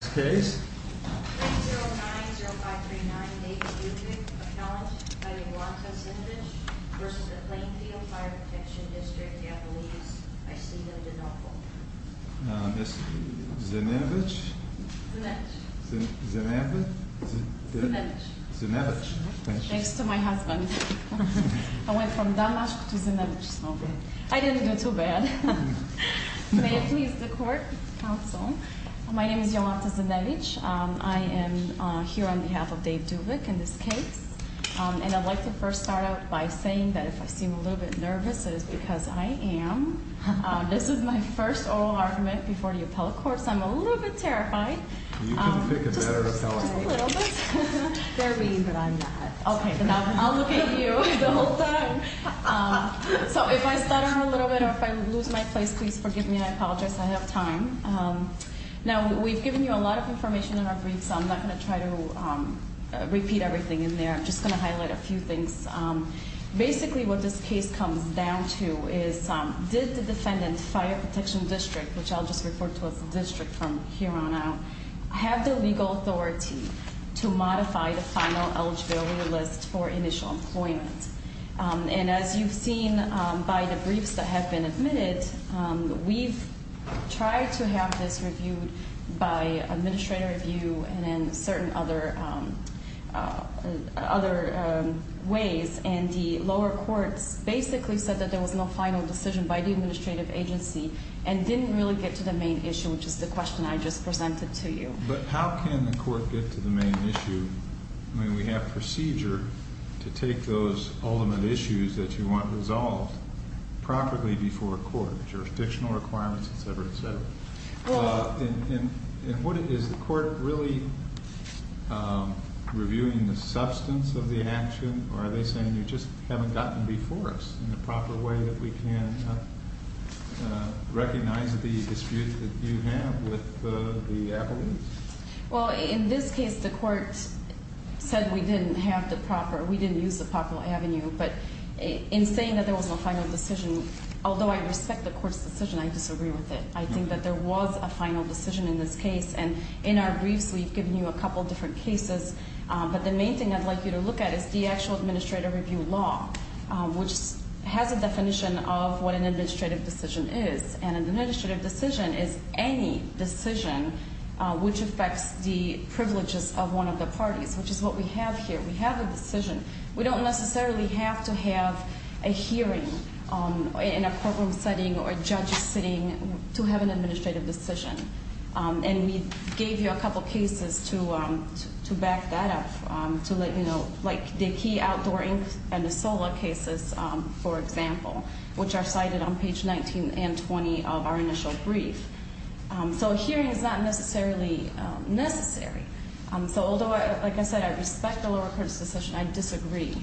David Duvick, accounted by Iwata Zinevich v. Plainfield Fire Protection District, Yad Veles, I see them to double. Zinevich? Zinevich. Zinevich? Zinevich. Zinevich. Thanks to my husband. I went from Damask to Zinevich. I didn't do too bad. May it please the court, counsel. My name is Iwata Zinevich. I am here on behalf of Dave Duvick in this case. And I'd like to first start out by saying that if I seem a little bit nervous, it is because I am. This is my first oral argument before the appellate court, so I'm a little bit terrified. You can pick a better appellate. Just a little bit. They're mean, but I'm not. Okay, then I'll look at you the whole time. So if I stutter a little bit or if I lose my place, please forgive me. I apologize. I have time. Now, we've given you a lot of information in our brief, so I'm not going to try to repeat everything in there. I'm just going to highlight a few things. Basically, what this case comes down to is did the defendant, Fire Protection District, which I'll just refer to as the district from here on out, have the legal authority to modify the final eligibility list for initial employment? And as you've seen by the briefs that have been admitted, we've tried to have this reviewed by administrative review and in certain other ways. And the lower courts basically said that there was no final decision by the administrative agency and didn't really get to the main issue, which is the question I just presented to you. But how can the court get to the main issue? I mean, we have procedure to take those ultimate issues that you want resolved properly before a court, jurisdictional requirements, et cetera, et cetera. And what is the court really reviewing, the substance of the action, or are they saying you just haven't got them before us in a proper way that we can recognize the dispute that you have with the appellees? Well, in this case, the court said we didn't have the proper, we didn't use the proper avenue. But in saying that there was no final decision, although I respect the court's decision, I disagree with it. I think that there was a final decision in this case. And in our briefs, we've given you a couple different cases. But the main thing I'd like you to look at is the actual administrative review law, which has a definition of what an administrative decision is. And an administrative decision is any decision which affects the privileges of one of the parties, which is what we have here. We have a decision. We don't necessarily have to have a hearing in a courtroom setting or a judge sitting to have an administrative decision. And we gave you a couple cases to back that up, to let you know. Like the key outdoor and the solar cases, for example, which are cited on page 19 and 20 of our initial brief. So a hearing is not necessarily necessary. So although, like I said, I respect the lower court's decision, I disagree.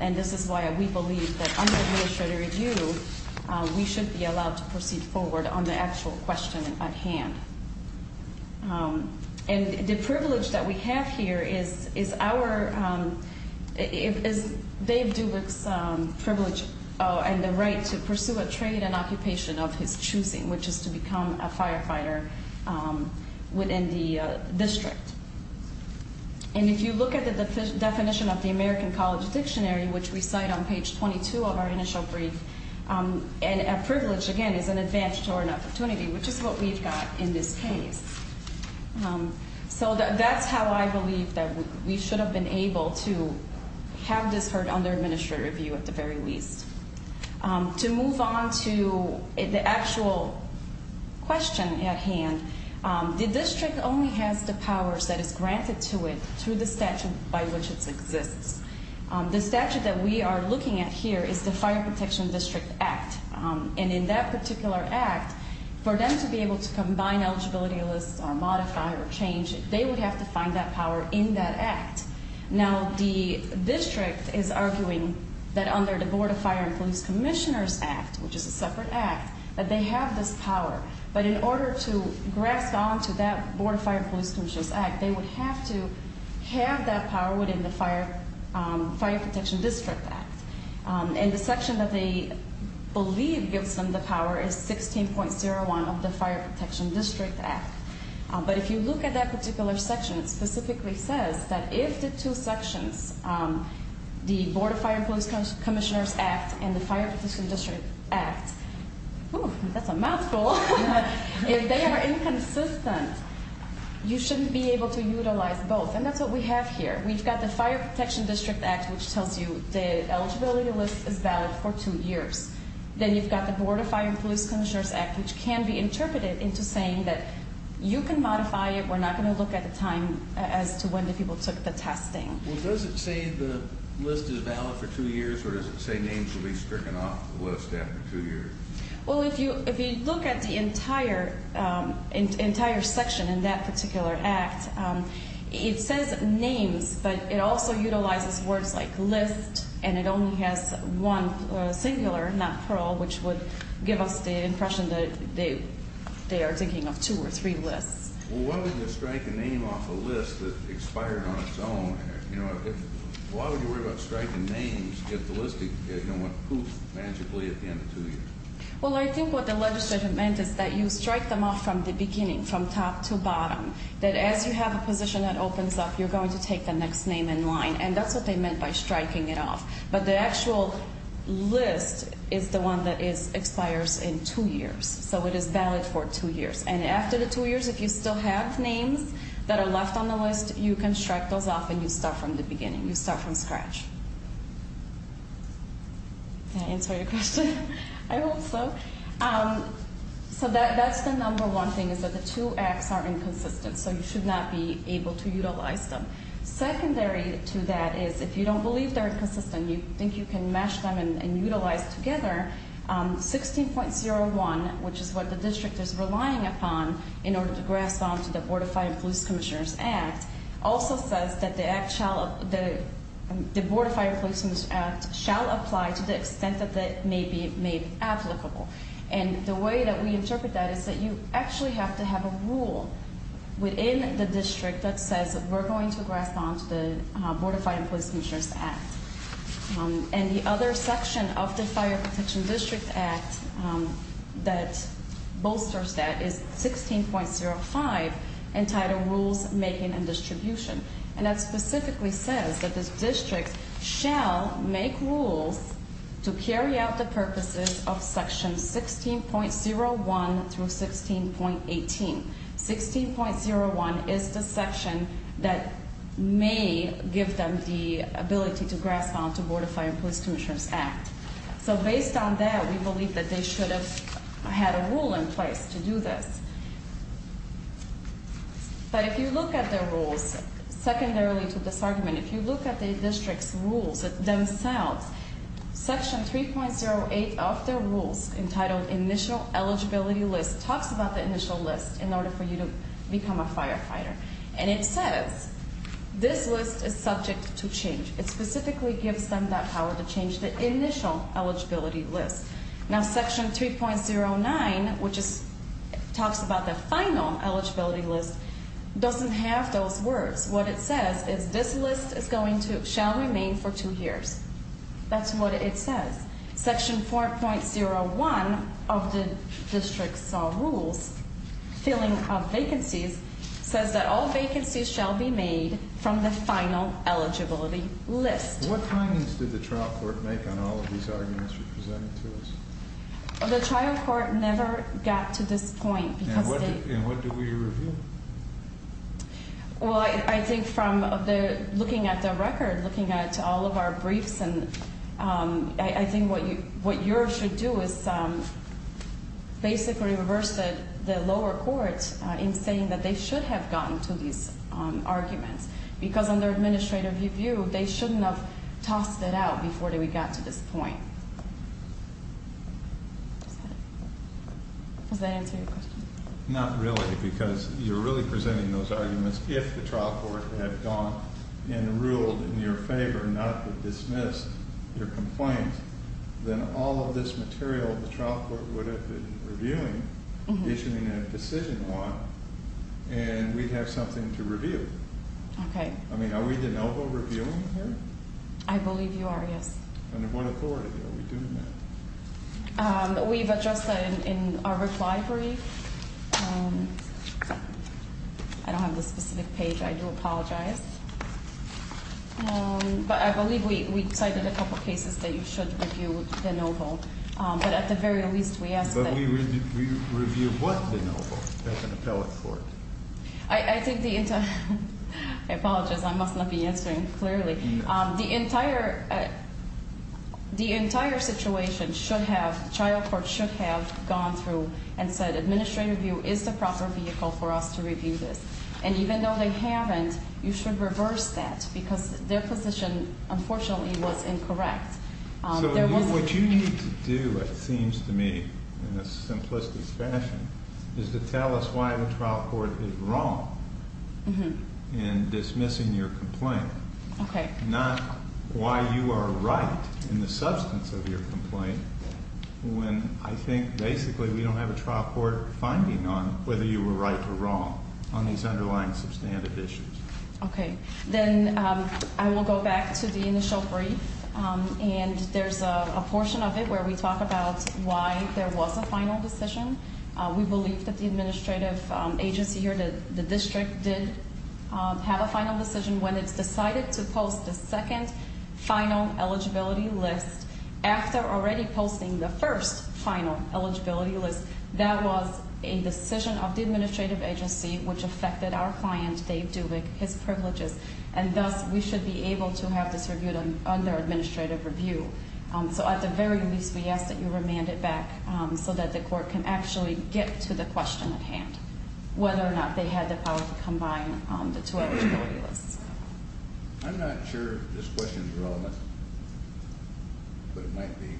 And this is why we believe that under administrative review, we should be allowed to proceed forward on the actual question at hand. And the privilege that we have here is our, is Dave Dubik's privilege and the right to pursue a trade and occupation of his choosing, which is to become a firefighter within the district. And if you look at the definition of the American College Dictionary, which we cite on page 22 of our initial brief, and a privilege, again, is an advantage or an opportunity, which is what we've got in this case. So that's how I believe that we should have been able to have this heard under administrative review at the very least. To move on to the actual question at hand, the district only has the powers that is granted to it through the statute by which it exists. The statute that we are looking at here is the Fire Protection District Act. And in that particular act, for them to be able to combine eligibility lists or modify or change, they would have to find that power in that act. Now, the district is arguing that under the Board of Fire and Police Commissioners Act, which is a separate act, that they have this power. But in order to grasp onto that Board of Fire and Police Commissioners Act, they would have to have that power within the Fire Protection District Act. And the section that they believe gives them the power is 16.01 of the Fire Protection District Act. But if you look at that particular section, it specifically says that if the two sections, the Board of Fire and Police Commissioners Act and the Fire Protection District Act, that's a mouthful, if they are inconsistent, you shouldn't be able to utilize both. And that's what we have here. We've got the Fire Protection District Act, which tells you the eligibility list is valid for two years. Then you've got the Board of Fire and Police Commissioners Act, which can be interpreted into saying that you can modify it. We're not going to look at the time as to when the people took the testing. Well, does it say the list is valid for two years, or does it say names will be stricken off the list after two years? Well, if you look at the entire section in that particular act, it says names, but it also utilizes words like list, and it only has one singular, not plural, which would give us the impression that they are thinking of two or three lists. Well, why would you strike a name off a list that expired on its own? Why would you worry about striking names if the listing went poof magically at the end of two years? Well, I think what the legislature meant is that you strike them off from the beginning, from top to bottom, that as you have a position that opens up, you're going to take the next name in line, and that's what they meant by striking it off. But the actual list is the one that expires in two years, so it is valid for two years. And after the two years, if you still have names that are left on the list, you can strike those off, and you start from the beginning. You start from scratch. Did I answer your question? I hope so. So that's the number one thing, is that the two acts are inconsistent, so you should not be able to utilize them. Secondary to that is if you don't believe they're inconsistent, you think you can match them and utilize together, 16.01, which is what the district is relying upon in order to grasp onto the Board of Fire and Police Commissioners Act, also says that the Board of Fire and Police Commissioners Act shall apply to the extent that it may be made applicable. And the way that we interpret that is that you actually have to have a rule within the district that says we're going to grasp onto the Board of Fire and Police Commissioners Act. And the other section of the Fire Protection District Act that bolsters that is 16.05 entitled Rules Making and Distribution. And that specifically says that this district shall make rules to carry out the purposes of sections 16.01 through 16.18. 16.01 is the section that may give them the ability to grasp onto the Board of Fire and Police Commissioners Act. So based on that, we believe that they should have had a rule in place to do this. But if you look at their rules, secondarily to this argument, if you look at the district's rules themselves, section 3.08 of their rules entitled Initial Eligibility List talks about the initial list in order for you to become a firefighter. And it says this list is subject to change. It specifically gives them that power to change the initial eligibility list. Now section 3.09, which talks about the final eligibility list, doesn't have those words. What it says is this list shall remain for two years. That's what it says. Section 4.01 of the district's rules, Filling of Vacancies, says that all vacancies shall be made from the final eligibility list. What findings did the trial court make on all of these arguments you presented to us? The trial court never got to this point. And what did we reveal? Well, I think from looking at the record, looking at all of our briefs, I think what yours should do is basically reverse the lower court in saying that they should have gotten to these arguments. Because under administrative review, they shouldn't have tossed it out before we got to this point. Does that answer your question? Not really, because you're really presenting those arguments. If the trial court had gone and ruled in your favor not to dismiss your complaint, then all of this material the trial court would have been reviewing, issuing a decision on, and we'd have something to review. Okay. I mean, are we de novo reviewing here? I believe you are, yes. Under what authority are we doing that? We've addressed that in our reply brief. I don't have the specific page. I do apologize. But I believe we cited a couple of cases that you should review de novo. But at the very least, we ask that you review what de novo as an appellate court. I think the entire – I apologize. I must not be answering clearly. The entire situation should have – the trial court should have gone through and said administrative review is the proper vehicle for us to review this. And even though they haven't, you should reverse that, because their position, unfortunately, was incorrect. So what you need to do, it seems to me, in a simplistic fashion, is to tell us why the trial court is wrong in dismissing your complaint. Okay. Not why you are right in the substance of your complaint, when I think basically we don't have a trial court finding on whether you were right or wrong on these underlying substantive issues. Okay. Then I will go back to the initial brief, and there's a portion of it where we talk about why there was a final decision. We believe that the administrative agency here, the district, did have a final decision when it decided to post the second final eligibility list. After already posting the first final eligibility list, that was a decision of the administrative agency, which affected our client, Dave Dubik, his privileges. And thus, we should be able to have this reviewed under administrative review. So at the very least, we ask that you remand it back so that the court can actually get to the question at hand, whether or not they had the power to combine the two eligibility lists. I'm not sure if this question is relevant, but it might be.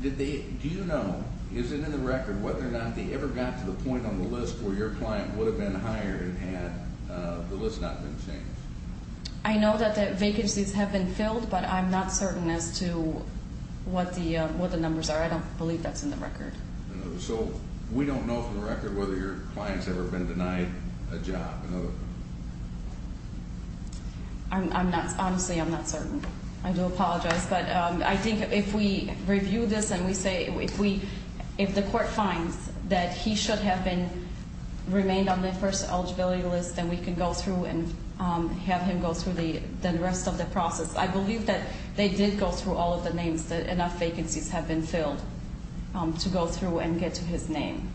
Do you know, is it in the record, whether or not they ever got to the point on the list where your client would have been hired had the list not been changed? I know that the vacancies have been filled, but I'm not certain as to what the numbers are. I don't believe that's in the record. So we don't know for the record whether your client's ever been denied a job? Honestly, I'm not certain. I do apologize. But I think if we review this and we say, if the court finds that he should have remained on the first eligibility list, then we can go through and have him go through the rest of the process. I believe that they did go through all of the names, that enough vacancies have been filled to go through and get to his name.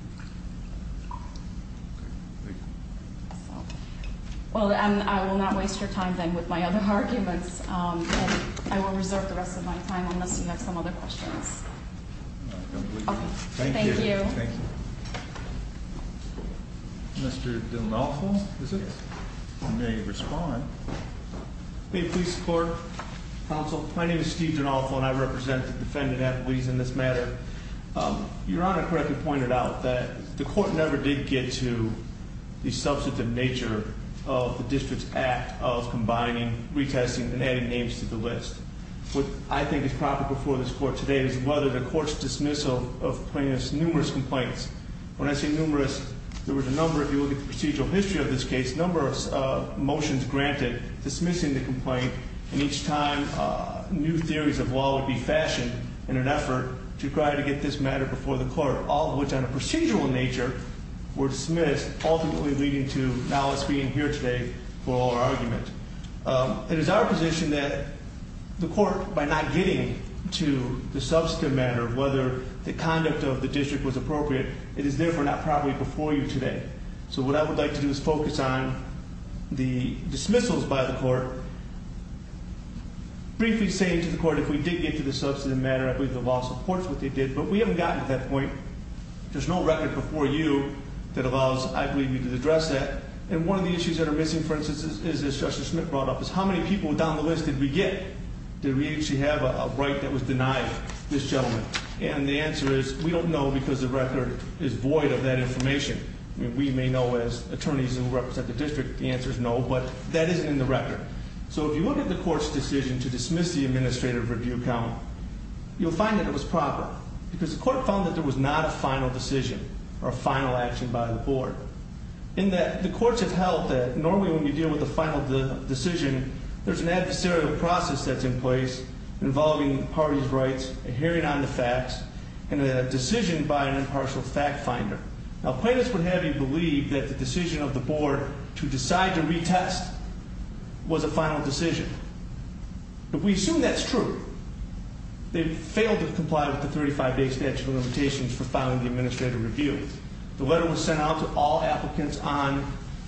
Well, I will not waste your time, then, with my other arguments. I will reserve the rest of my time unless you have some other questions. Thank you. Thank you. Mr. Denolfo, is it? Yes. You may respond. May it please the Court? Counsel, my name is Steve Denolfo, and I represent the defendant at Lease in this matter. Your Honor correctly pointed out that the court never did get to the substantive nature of the district's act of combining, retesting, and adding names to the list. What I think is proper before this court today is whether the court's dismissal of plaintiff's numerous complaints. When I say numerous, there was a number, if you look at the procedural history of this case, a number of motions granted dismissing the complaint. And each time, new theories of law would be fashioned in an effort to try to get this matter before the court, all of which on a procedural nature were dismissed, ultimately leading to now us being here today for our argument. It is our position that the court, by not getting to the substantive matter of whether the conduct of the district was appropriate, it is therefore not properly before you today. So what I would like to do is focus on the dismissals by the court. Briefly saying to the court, if we did get to the substantive matter, I believe the law supports what they did. But we haven't gotten to that point. There's no record before you that allows, I believe, you to address that. And one of the issues that are missing, for instance, is as Justice Smith brought up, is how many people down the list did we get? Did we actually have a right that was denied this gentleman? And the answer is, we don't know because the record is void of that information. We may know as attorneys who represent the district, the answer is no, but that isn't in the record. So if you look at the court's decision to dismiss the administrative review count, you'll find that it was proper. Because the court found that there was not a final decision or a final action by the board. In that, the courts have held that normally when we deal with a final decision, there's an adversarial process that's in place involving the party's rights, a hearing on the facts, and a decision by an impartial fact finder. Now, plaintiffs would have you believe that the decision of the board to decide to retest was a final decision. But we assume that's true. They failed to comply with the 35-day statute of limitations for filing the administrative review. The letter was sent out to all applicants on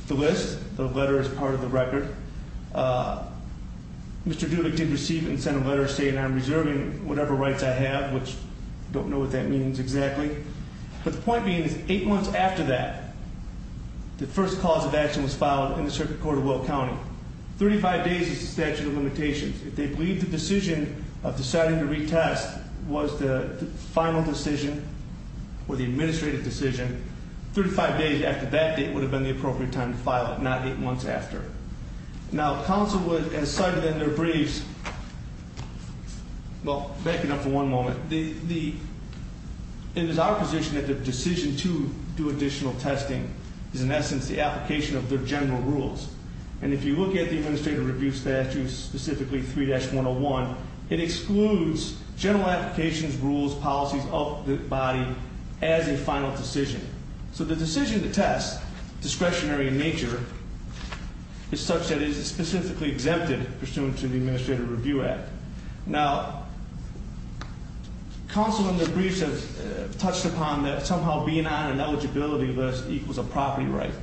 the list. The letter is part of the record. Mr. Dulick did receive it and sent a letter saying I'm reserving whatever rights I have, which I don't know what that means exactly. But the point being is eight months after that, the first cause of action was filed in the circuit court of Will County. Thirty-five days is the statute of limitations. If they believe the decision of deciding to retest was the final decision or the administrative decision, 35 days after that date would have been the appropriate time to file it, not eight months after. Now, counsel has cited in their briefs, well, backing up for one moment, it is our position that the decision to do additional testing is in essence the application of their general rules. And if you look at the administrative review statute, specifically 3-101, it excludes general applications, rules, policies of the body as a final decision. So the decision to test, discretionary in nature, is such that it is specifically exempted pursuant to the Administrative Review Act. Now, counsel in their briefs have touched upon that somehow being on an eligibility list equals a property right.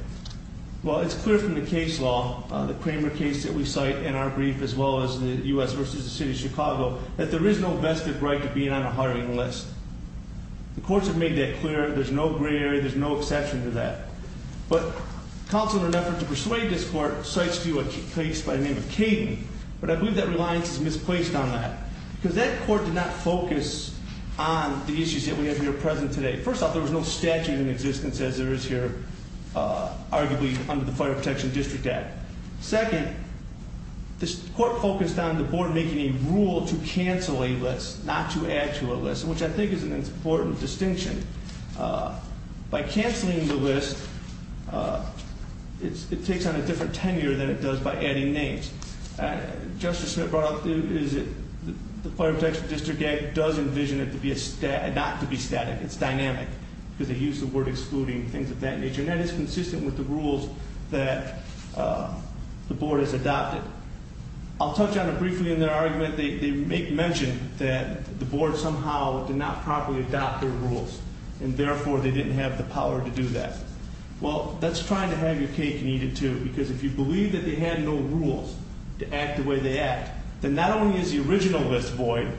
Well, it's clear from the case law, the Kramer case that we cite in our brief as well as the U.S. v. the City of Chicago, that there is no vested right to be on a hiring list. The courts have made that clear. There's no gray area. There's no exception to that. But counsel, in an effort to persuade this court, cites to you a case by the name of Caden. But I believe that reliance is misplaced on that. Because that court did not focus on the issues that we have here present today. First off, there was no statute in existence as there is here, arguably, under the Fire Protection District Act. Second, this court focused on the board making a rule to cancel a list, not to add to a list, which I think is an important distinction. By canceling the list, it takes on a different tenure than it does by adding names. Justice Smith brought up the Fire Protection District Act does envision it not to be static. It's dynamic. Because they use the word excluding, things of that nature. And that is consistent with the rules that the board has adopted. I'll touch on it briefly in their argument. They make mention that the board somehow did not properly adopt their rules. And therefore, they didn't have the power to do that. Well, that's trying to have your cake and eat it too. Because if you believe that they had no rules to act the way they act, then not only is the original list void,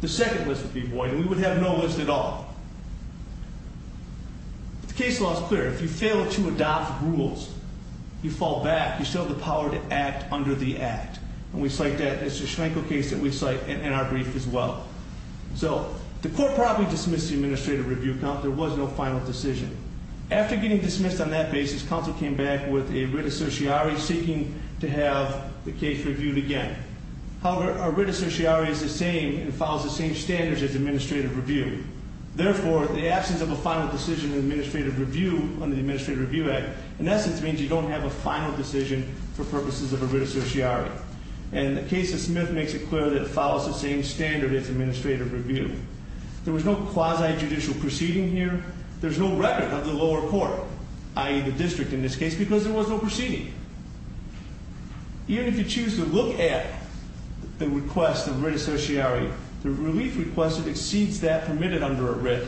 the second list would be void. And we would have no list at all. The case law is clear. If you fail to adopt rules, you fall back. You still have the power to act under the act. And we cite that. It's a Schenkel case that we cite in our brief as well. So the court probably dismissed the administrative review count. There was no final decision. After getting dismissed on that basis, counsel came back with a writ assertiari seeking to have the case reviewed again. However, a writ assertiari is the same and follows the same standards as administrative review. Therefore, the absence of a final decision in administrative review under the Administrative Review Act, in essence, means you don't have a final decision for purposes of a writ assertiari. And the case of Smith makes it clear that it follows the same standard as administrative review. There was no quasi-judicial proceeding here. There's no record of the lower court, i.e., the district in this case, because there was no proceeding. Even if you choose to look at the request of a writ assertiari, the relief request exceeds that permitted under a writ.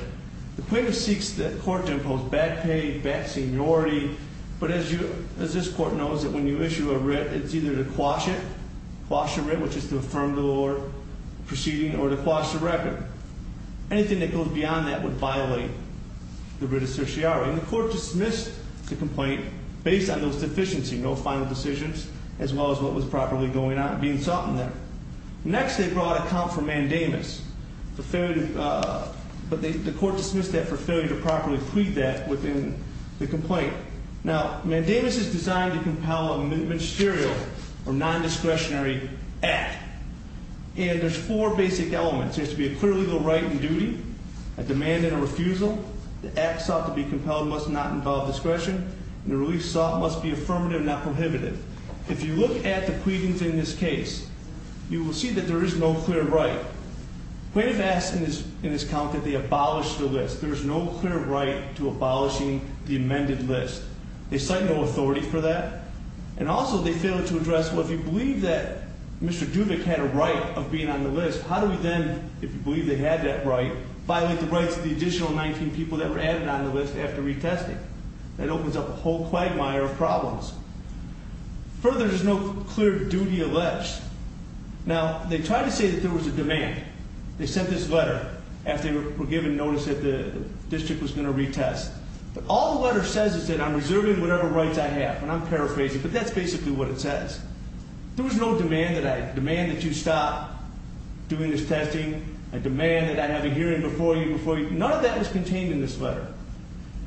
The plaintiff seeks the court to impose bad pay, bad seniority. But as this court knows, when you issue a writ, it's either to quash it, quash the writ, which is to affirm the lower proceeding, or to quash the record. Anything that goes beyond that would violate the writ assertiari. And the court dismissed the complaint based on those deficiencies, no final decisions, as well as what was properly going on, being sought in there. Next, they brought a count for mandamus, for failure to – but the court dismissed that for failure to properly plead that within the complaint. Now, mandamus is designed to compel a ministerial or nondiscretionary act. And there's four basic elements. There has to be a clear legal right and duty, a demand and a refusal, the act sought to be compelled must not involve discretion, and the relief sought must be affirmative, not prohibitive. If you look at the pleadings in this case, you will see that there is no clear right. The plaintiff asks in this count that they abolish the list. There is no clear right to abolishing the amended list. They cite no authority for that. And also they fail to address, well, if you believe that Mr. Dubik had a right of being on the list, how do we then, if you believe they had that right, violate the rights of the additional 19 people that were added on the list after retesting? That opens up a whole quagmire of problems. Further, there's no clear duty alleged. Now, they tried to say that there was a demand. They sent this letter after they were given notice that the district was going to retest. But all the letter says is that I'm reserving whatever rights I have, and I'm paraphrasing. But that's basically what it says. There was no demand that you stop doing this testing, a demand that I have a hearing before you, before you. None of that was contained in this letter.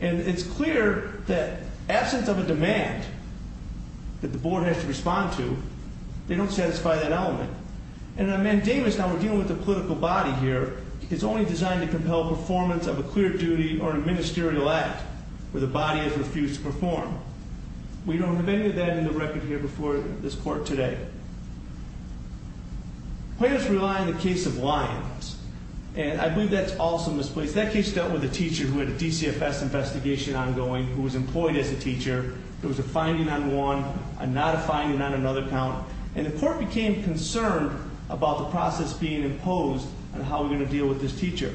And it's clear that absence of a demand that the board has to respond to, they don't satisfy that element. And on mandamus, now, we're dealing with a political body here. It's only designed to compel performance of a clear duty or a ministerial act where the body has refused to perform. We don't have any of that in the record here before this court today. Plaintiffs rely on the case of Lyons. And I believe that's also misplaced. That case dealt with a teacher who had a DCFS investigation ongoing, who was employed as a teacher. There was a finding on one, not a finding on another count. And the court became concerned about the process being imposed and how we're going to deal with this teacher.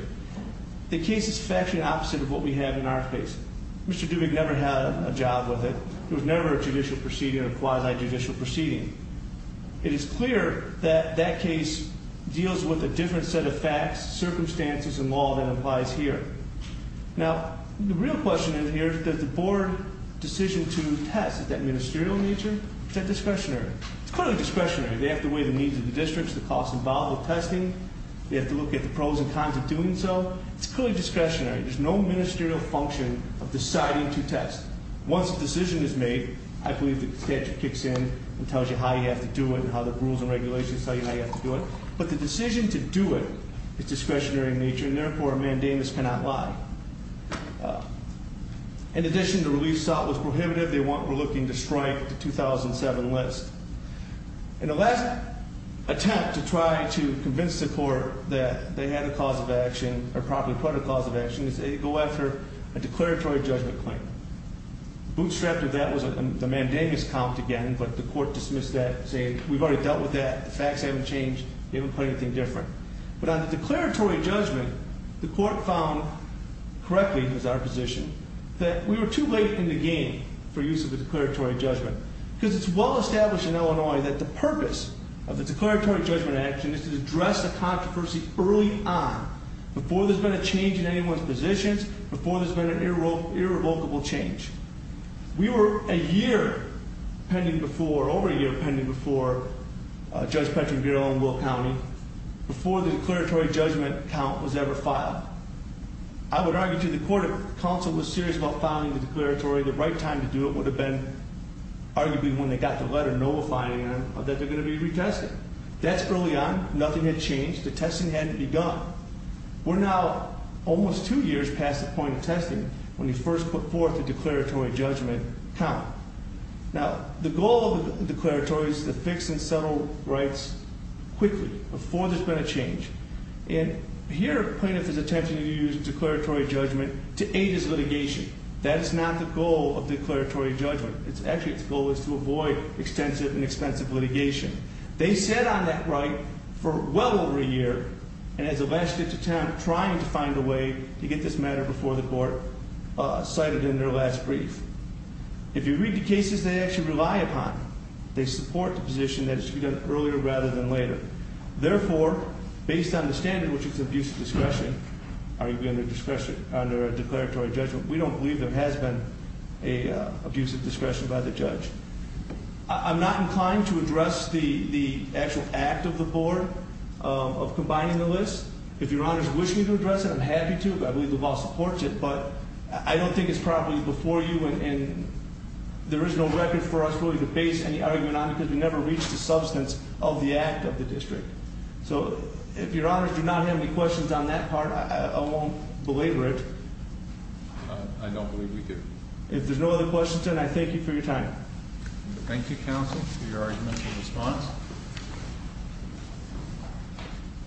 The case is factually opposite of what we have in our case. Mr. Dubig never had a job with it. It was never a judicial proceeding or a quasi-judicial proceeding. It is clear that that case deals with a different set of facts, circumstances, and law than applies here. Now, the real question in here is does the board decision to test, is that ministerial in nature, is that discretionary? It's clearly discretionary. They have to weigh the needs of the districts, the costs involved with testing. They have to look at the pros and cons of doing so. It's clearly discretionary. There's no ministerial function of deciding to test. Once a decision is made, I believe the statute kicks in and tells you how you have to do it and how the rules and regulations tell you how you have to do it. But the decision to do it is discretionary in nature, and therefore a mandamus cannot lie. In addition, the relief sought was prohibitive. They were looking to strike the 2007 list. And the last attempt to try to convince the court that they had a cause of action or probably put a cause of action is they go after a declaratory judgment claim. Bootstrapped of that was the mandamus count again, but the court dismissed that, saying we've already dealt with that. The facts haven't changed. They haven't put anything different. But on the declaratory judgment, the court found correctly, as our position, that we were too late in the game for use of the declaratory judgment. Because it's well established in Illinois that the purpose of the declaratory judgment action is to address the controversy early on, before there's been a change in anyone's positions, before there's been an irrevocable change. We were a year pending before, over a year pending before, Judge Petrangero in Will County, before the declaratory judgment count was ever filed. I would argue to the court, counsel was serious about filing the declaratory. The right time to do it would have been arguably when they got the letter notifying them that they're going to be retested. That's early on. Nothing had changed. The testing hadn't begun. We're now almost two years past the point of testing, when you first put forth the declaratory judgment count. Now, the goal of the declaratory is to fix and settle rights quickly, before there's been a change. And here, plaintiff is attempting to use declaratory judgment to aid his litigation. That is not the goal of declaratory judgment. Actually, its goal is to avoid extensive and expensive litigation. They sat on that right for well over a year, and has elapsed into time trying to find a way to get this matter before the court, cited in their last brief. If you read the cases they actually rely upon, they support the position that it should be done earlier rather than later. Therefore, based on the standard, which is abusive discretion, are you going to discretion under a declaratory judgment? We don't believe there has been an abusive discretion by the judge. I'm not inclined to address the actual act of the board of combining the list. If your honors wish me to address it, I'm happy to. I believe the law supports it, but I don't think it's properly before you. And there is no record for us really to base any argument on, because we never reached the substance of the act of the district. So, if your honors do not have any questions on that part, I won't belabor it. I don't believe we do. If there's no other questions, then I thank you for your time. Thank you, counsel, for your argument and response.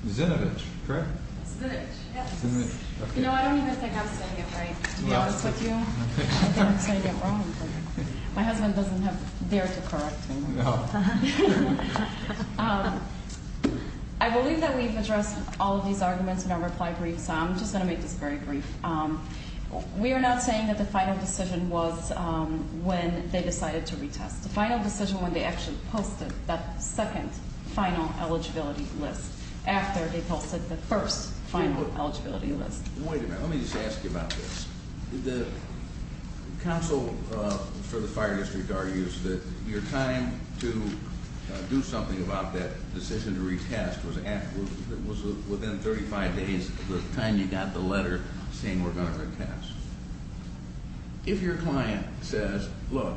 Zinovich, correct? Zinovich, yes. Zinovich, okay. You know, I don't even think I'm saying it right, to be honest with you. I think I'm saying it wrong. My husband doesn't dare to correct me. No. I believe that we've addressed all of these arguments in our reply brief, so I'm just going to make this very brief. We are not saying that the final decision was when they decided to retest. The final decision was when they actually posted that second final eligibility list after they posted the first final eligibility list. Wait a minute. Let me just ask you about this. The counsel for the fire district argues that your time to do something about that decision to retest was within 35 days of the time you got the letter. Saying we're going to retest. If your client says, look,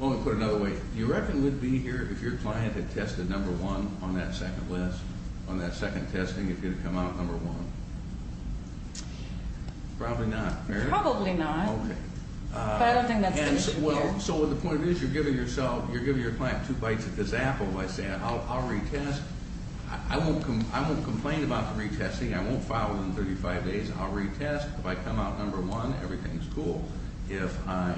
let me put it another way. Do you reckon we'd be here if your client had tested number one on that second list, on that second testing, if you'd have come out number one? Probably not, Mary. Probably not. Okay. But I don't think that's the issue here. So the point is, you're giving yourself, you're giving your client two bites of the apple by saying, I'll retest. I won't complain about the retesting. I won't file within 35 days. I'll retest. If I come out number one, everything's cool. If I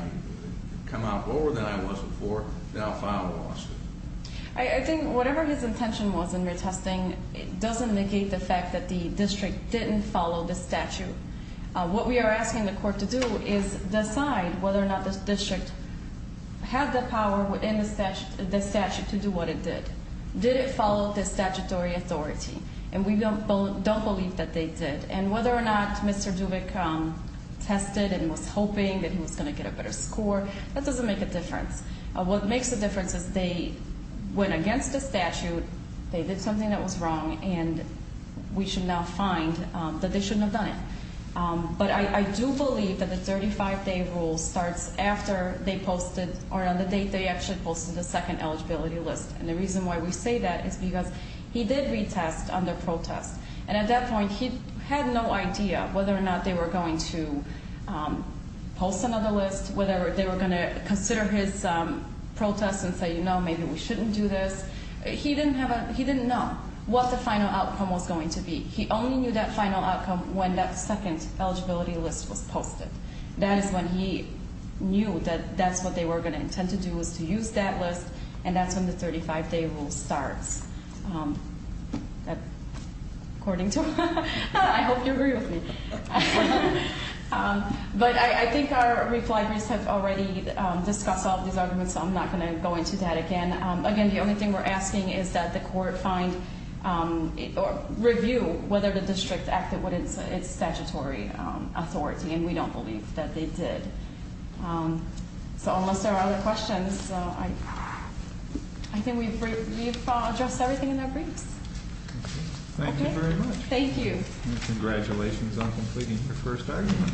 come out lower than I was before, then I'll file a lawsuit. I think whatever his intention was in retesting doesn't negate the fact that the district didn't follow the statute. What we are asking the court to do is decide whether or not the district had the power within the statute to do what it did. Did it follow the statutory authority? And we don't believe that they did. And whether or not Mr. Dubik tested and was hoping that he was going to get a better score, that doesn't make a difference. What makes a difference is they went against the statute, they did something that was wrong, and we should now find that they shouldn't have done it. But I do believe that the 35-day rule starts after they posted, or on the date they actually posted the second eligibility list. And the reason why we say that is because he did retest under protest. And at that point, he had no idea whether or not they were going to post another list, whether they were going to consider his protest and say, you know, maybe we shouldn't do this. He didn't know what the final outcome was going to be. He only knew that final outcome when that second eligibility list was posted. That is when he knew that that's what they were going to intend to do was to use that list, and that's when the 35-day rule starts, according to him. I hope you agree with me. But I think our reply groups have already discussed all of these arguments, so I'm not going to go into that again. Again, the only thing we're asking is that the court find or review whether the district acted within its statutory authority. And we don't believe that they did. So unless there are other questions, I think we've addressed everything in our briefs. Thank you very much. Thank you. And congratulations on completing your first argument.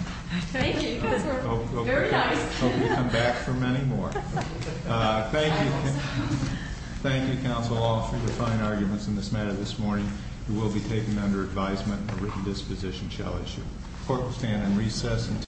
Thank you. Very nice. I hope you come back for many more. Thank you. Thank you, counsel, all, for your fine arguments in this matter this morning. You will be taken under advisement. A written disposition shall issue. The court will stand on recess until-